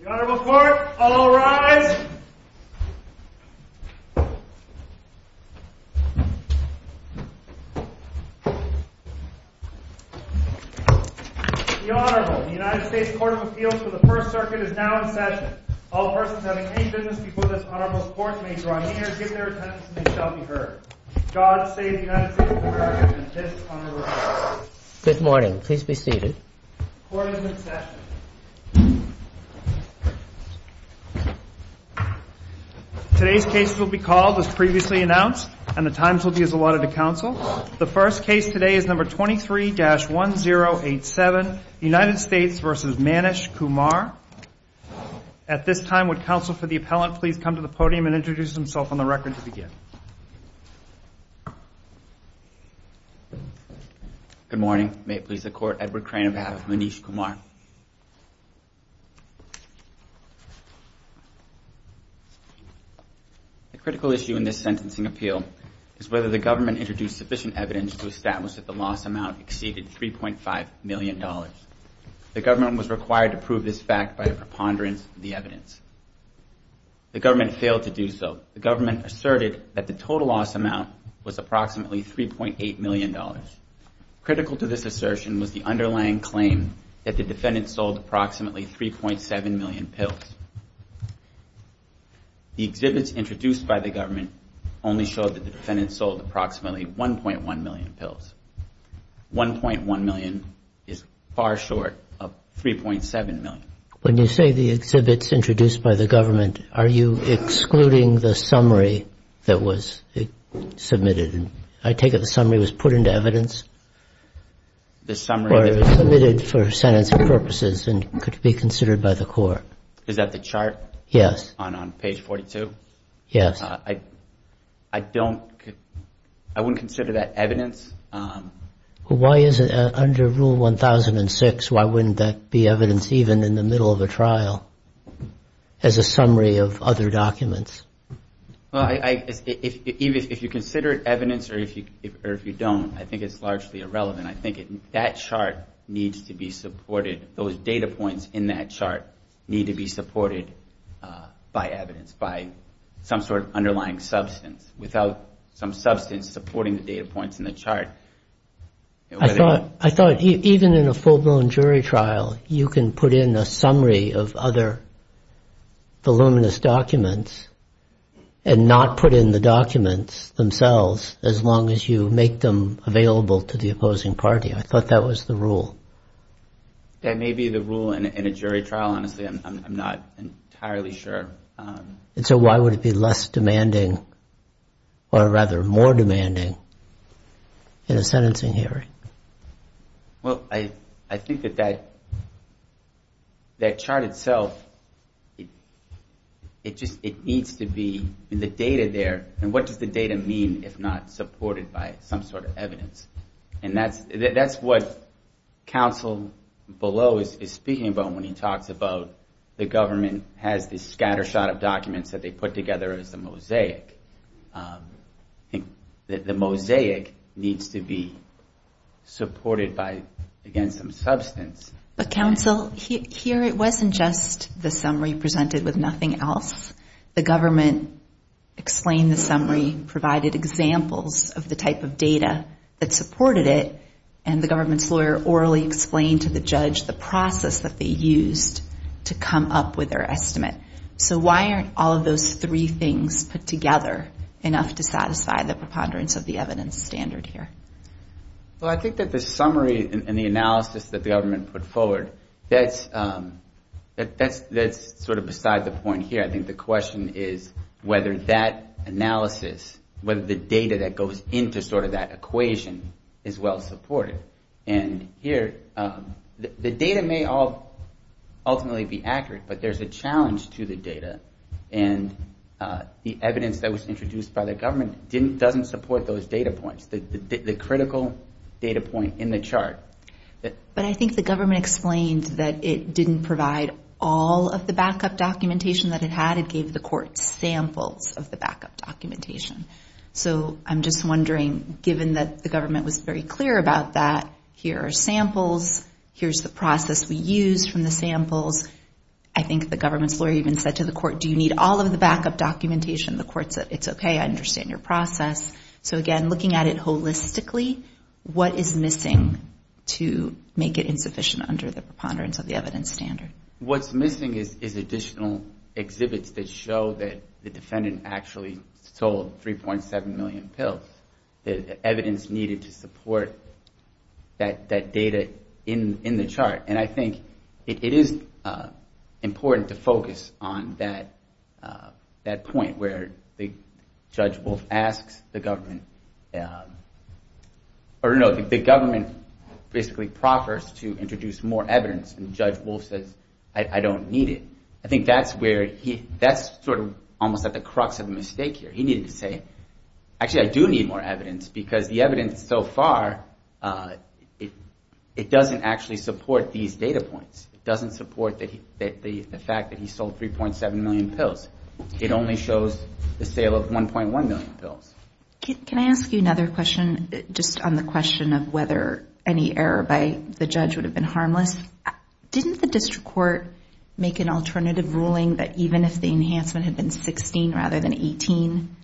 The Honorable Court, all arise! The Honorable, the United States Court of Appeals for the First Circuit is now in session. All persons having any business before this Honorable's Court may draw near, give their attendance, and they shall be heard. God save the United States of America and this Honorable Court. Good morning. Please be seated. Court is in session. Today's case will be called as previously announced, and the times will be as allotted to counsel. The first case today is number 23-1087, United States v. Manish Kumar. At this time, would counsel for the appellant please come to the podium and introduce himself on the record to begin. Good morning. May it please the Court, Edward Crane on behalf of Manish Kumar. The critical issue in this sentencing appeal is whether the government introduced sufficient evidence to establish that the loss amount exceeded $3.5 million. The government was required to prove this fact by a preponderance of the evidence. The government failed to do so. The government asserted that the total loss amount was approximately $3.8 million. Critical to this assertion was the underlying claim that the defendant sold approximately 3.7 million pills. The exhibits introduced by the government only showed that the defendant sold approximately 1.1 million pills. 1.1 million is far short of 3.7 million. When you say the exhibits introduced by the government, are you excluding the summary that was submitted? I take it the summary was put into evidence? Or it was submitted for sentencing purposes and could be considered by the Court. Is that the chart on page 42? I wouldn't consider that evidence. Under Rule 1006, why wouldn't that be evidence even in the middle of a trial as a summary of other documents? If you consider it evidence or if you don't, I think it's largely irrelevant. That chart needs to be supported. Those data points in that chart need to be supported by evidence, by some sort of underlying substance. I thought even in a full-blown jury trial, you can put in a summary of other voluminous documents and not put in the documents themselves, as long as you make them available to the opposing party. That may be the rule in a jury trial. I'm not entirely sure. So why would it be less demanding, or rather more demanding, in a sentencing hearing? I think that that chart itself, it needs to be in the data there. What does the data mean if not supported by some sort of evidence? And that's what counsel below is speaking about when he talks about the government has this scatter shot of documents that they put together as a mosaic. The mosaic needs to be supported by, again, some substance. But counsel, here it wasn't just the summary presented with nothing else. The government explained the summary, provided examples of the type of data that supported it, and the government's lawyer orally explained to the judge the process that they used to come up with their estimate. So why aren't all of those three things put together enough to satisfy the preponderance of the evidence standard here? Well, I think that the summary and the analysis that the government put forward, that's sort of beside the point here. I think the question is whether that analysis, whether the data that goes into sort of that equation is well supported. And here, the data may all ultimately be accurate, but there's a challenge to the data. And the evidence that was introduced by the government doesn't support those data points, the critical data point in the chart. But I think the government explained that it didn't provide all of the backup documentation that it had. It gave the court samples of the backup documentation. So I'm just wondering, given that the government was very clear about that, here are samples, here's the process we used from the samples. I think the government's lawyer even said to the court, do you need all of the backup documentation? The court said, it's okay, I understand your process. So again, looking at it holistically, what is missing to make it insufficient under the preponderance of the evidence standard? What's missing is additional exhibits that show that the defendant actually sold 3.7 million pills. The evidence needed to support that data in the chart. And I think it is important to focus on that point where Judge Wolf asks the government, or no, the government basically proffers to introduce more evidence. And Judge Wolf says, I don't need it. I think that's sort of almost at the crux of the mistake here. He needed to say, actually I do need more evidence, because the evidence so far, it doesn't actually support these data points. It doesn't support the fact that he sold 3.7 million pills. It only shows the sale of 1.1 million pills. Can I ask you another question, just on the question of whether any error by the judge would have been harmless? Didn't the district court make an alternative ruling that even if the enhancement had been 16 rather than 18,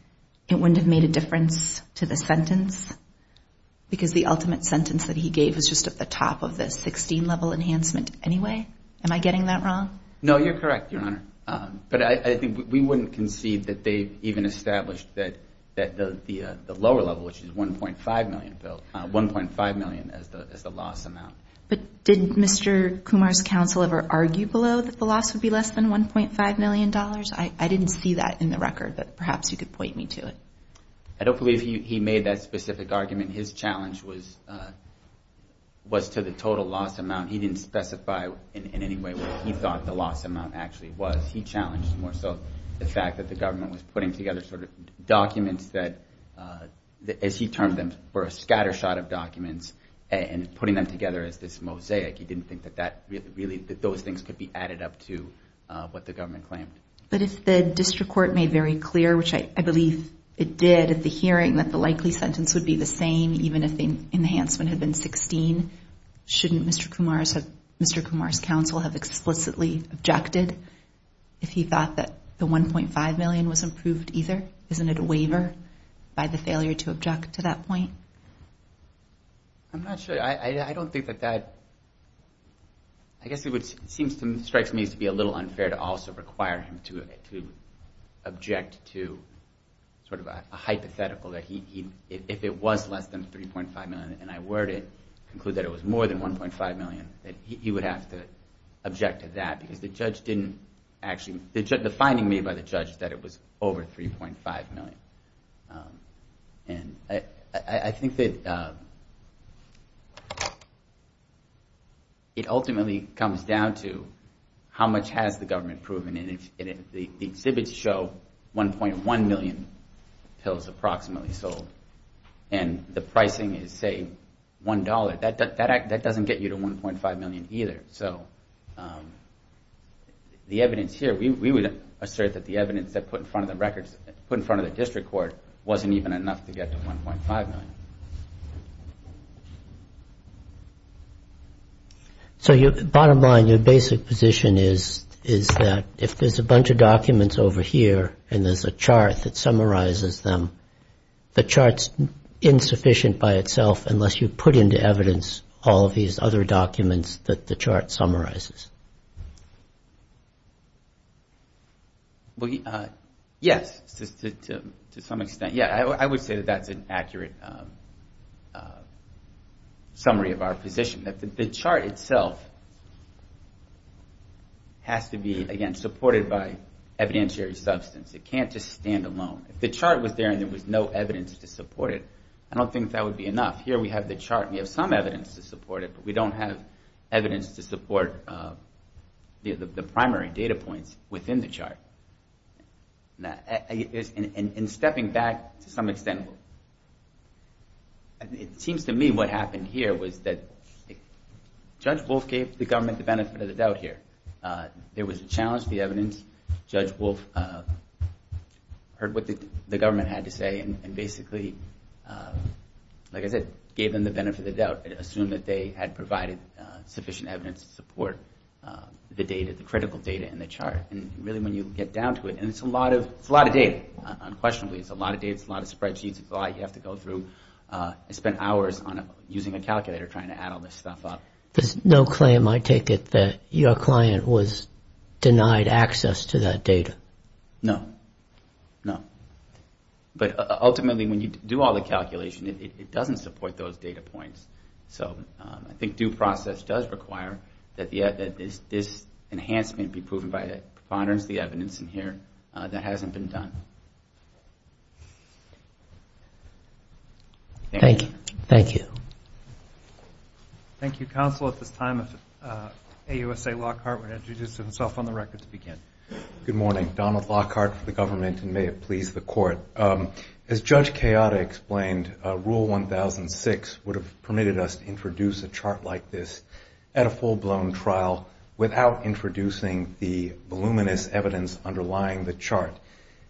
it wouldn't have made a difference to the sentence? Because the ultimate sentence that he gave was just at the top of the 16 level enhancement anyway? Am I getting that wrong? No, you're correct, Your Honor. But I think we wouldn't concede that they even established that the lower level, which is 1.5 million pills, 1.5 million as the loss amount. But did Mr. Kumar's counsel ever argue below that the loss would be less than $1.5 million? I didn't see that in the record, but perhaps you could point me to it. I don't believe he made that specific argument. His challenge was to the total loss amount. He didn't specify in any way what he thought the loss amount actually was. He challenged more so the fact that the government was putting together documents that, as he termed them, were a scatter shot of documents and putting them together as this mosaic. He didn't think that those things could be added up to what the government claimed. But if the district court made very clear, which I believe it did at the hearing, that the likely sentence would be the same, even if the enhancement had been 16, shouldn't Mr. Kumar's counsel have explicitly objected if he thought that the 1.5 million was improved either? Isn't it a waiver by the failure to object to that point? I'm not sure. I don't think that that... It strikes me as to be a little unfair to also require him to object to a hypothetical that if it was less than $3.5 million and I were to conclude that it was more than $1.5 million, that he would have to object to that because the finding made by the judge is that it was over $3.5 million. And I think that it ultimately comes down to how much has the government proven. And the exhibits show 1.1 million pills approximately sold. And the pricing is, say, $1. That doesn't get you to 1.5 million either. So the evidence here, we would assert that the evidence put in front of the district court wasn't even enough to get to 1.5 million. So bottom line, your basic position is that if there's a bunch of documents over here and there's a chart that summarizes them, the chart's insufficient by itself unless you put into evidence all of these other documents that the chart has. And that's what the chart summarizes. Yes, to some extent. I would say that that's an accurate summary of our position. The chart itself has to be, again, supported by evidentiary substance. It can't just stand alone. If the chart was there and there was no evidence to support it, I don't think that would be enough. It would have to support the primary data points within the chart. In stepping back to some extent, it seems to me what happened here was that Judge Wolf gave the government the benefit of the doubt here. There was a challenge to the evidence. Judge Wolf heard what the government had to say and basically, like I said, gave them the benefit of the doubt. Assume that they had provided sufficient evidence to support the data, the critical data in the chart. And really, when you get down to it, and it's a lot of data, unquestionably. It's a lot of data. It's a lot of spreadsheets. It's a lot you have to go through. I spent hours using a calculator trying to add all this stuff up. There's no claim, I take it, that your client was denied access to that data? No. No. But ultimately, when you do all the calculation, it doesn't support those data points. I think due process does require that this enhancement be proven by the evidence in here that hasn't been done. Thank you. Thank you, Counsel. At this time, AUSA Lockhart would introduce himself on the record to begin. Good morning. Donald Lockhart for the government, and may it please the Court. As Judge Chioda explained, Rule 1006 would have permitted us to introduce a chart like this at a full-blown trial without introducing the voluminous evidence underlying the chart.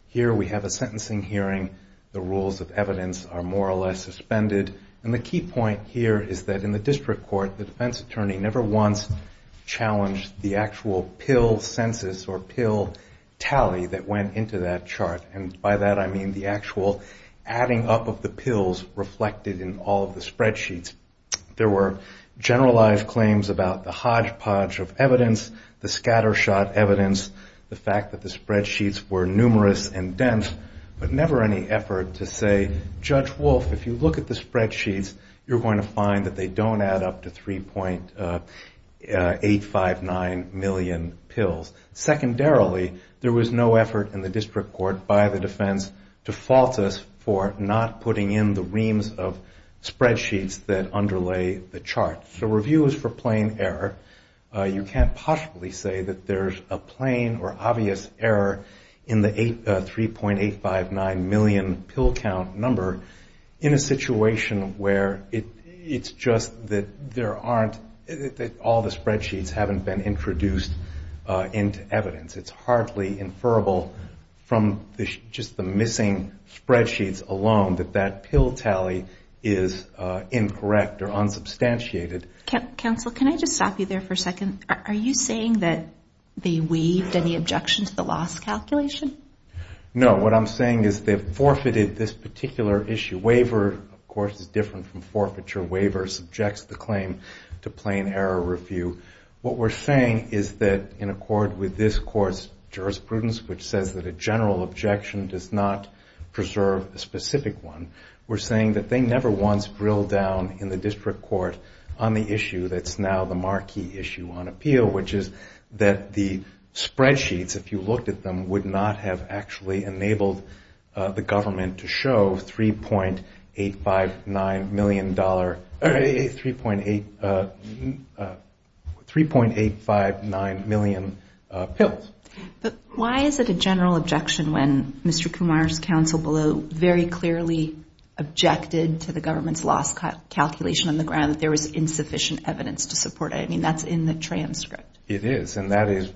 Here we have a sentencing hearing. The rules of evidence are more or less suspended. And the key point here is that in the district court, the defense attorney never once challenged the actual pill census or pill tally that went into that chart. And by that, I mean the actual adding up of the pills reflected in all of the spreadsheets. There were generalized claims about the hodgepodge of evidence, the scattershot evidence, the fact that the spreadsheets were numerous and dense. But never any effort to say, Judge Wolf, if you look at the spreadsheets, you're going to find that they don't add up to 3.859 million pills. Secondarily, there was no effort in the district court by the defense to fault us for not putting in the reams of spreadsheets that underlay the chart. So review is for plain error. You can't possibly say that there's a plain or obvious error in the 3.859 million pills. You can't say that there's a 3.859 million pill count number in a situation where it's just that there aren't, that all the spreadsheets haven't been introduced into evidence. It's hardly inferable from just the missing spreadsheets alone that that pill tally is incorrect or unsubstantiated. Counsel, can I just stop you there for a second? Are you saying that they waived any objection to the loss calculation? No. What I'm saying is they forfeited this particular issue. Waiver, of course, is different from forfeiture. Waiver subjects the claim to plain error review. What we're saying is that in accord with this court's jurisprudence, which says that a general objection does not preserve a specific one, we're saying that they never once drilled down in the district court on the issue that's now the marquee issue on our case. We're saying that there's a general objection to the loss calculation appeal, which is that the spreadsheets, if you looked at them, would not have actually enabled the government to show 3.859 million pills. But why is it a general objection when Mr. Kumar's counsel below very clearly objected to the government's loss calculation on the ground that there was insufficient evidence to support it? I mean, that's in the transcript. You never see in the transcript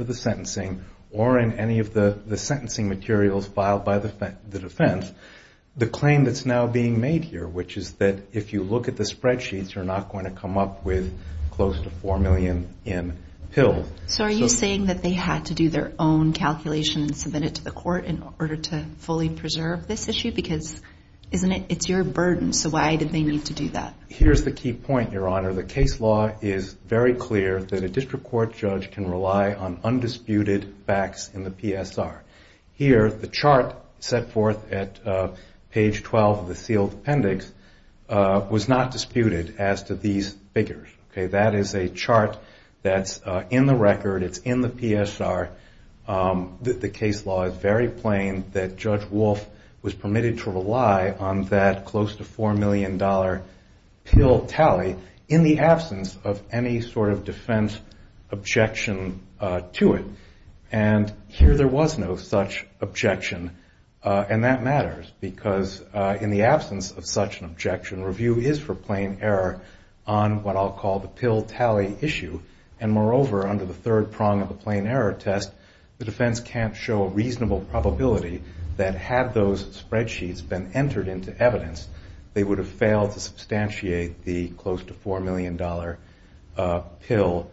of the sentencing or in any of the sentencing materials filed by the defense the claim that's now being made here, which is that if you look at the spreadsheets, you're not going to come up with close to 4 million in pills. So are you saying that they had to do their own calculation and submit it to the court in order to fully preserve this issue? Because it's your burden. So why did they need to do that? Here's the key point, Your Honor. The case law is very clear that a district court judge can rely on undisputed facts in the PSR. Here, the chart set forth at page 12 of the sealed appendix was not disputed as to these figures. That is a chart that's in the record. It's in the PSR. The case law is very plain that Judge Wolf was permitted to rely on that close to 4 million dollar case law. That is a pill tally in the absence of any sort of defense objection to it. And here there was no such objection. And that matters, because in the absence of such an objection, review is for plain error on what I'll call the pill tally issue. And moreover, under the third prong of the plain error test, the defense can't show a reasonable probability that had those spreadsheets been entered into evidence, they would have failed to substantiate the claim. They would have failed to substantiate the close to 4 million dollar pill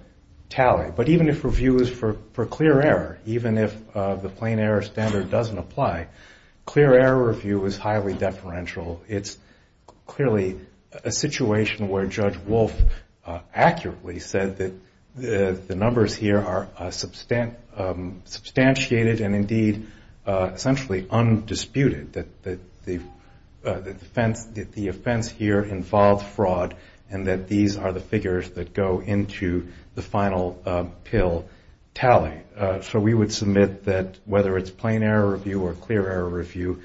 tally. But even if review is for clear error, even if the plain error standard doesn't apply, clear error review is highly deferential. It's clearly a situation where Judge Wolf accurately said that the numbers here are substantiated and indeed essentially undisputed, that the offense here involved fraud, fraud, fraud, fraud. And that these are the figures that go into the final pill tally. So we would submit that whether it's plain error review or clear error review,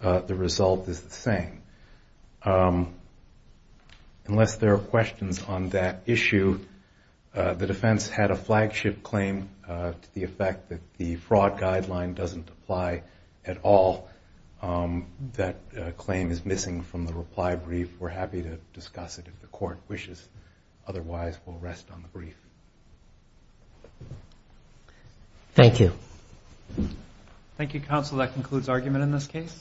the result is the same. Unless there are questions on that issue, the defense had a flagship claim to the effect that the fraud guideline doesn't apply at all. That claim is missing from the reply brief. We're happy to discuss that. If the court wishes. Otherwise, we'll rest on the brief. Thank you. Thank you, counsel. That concludes argument in this case.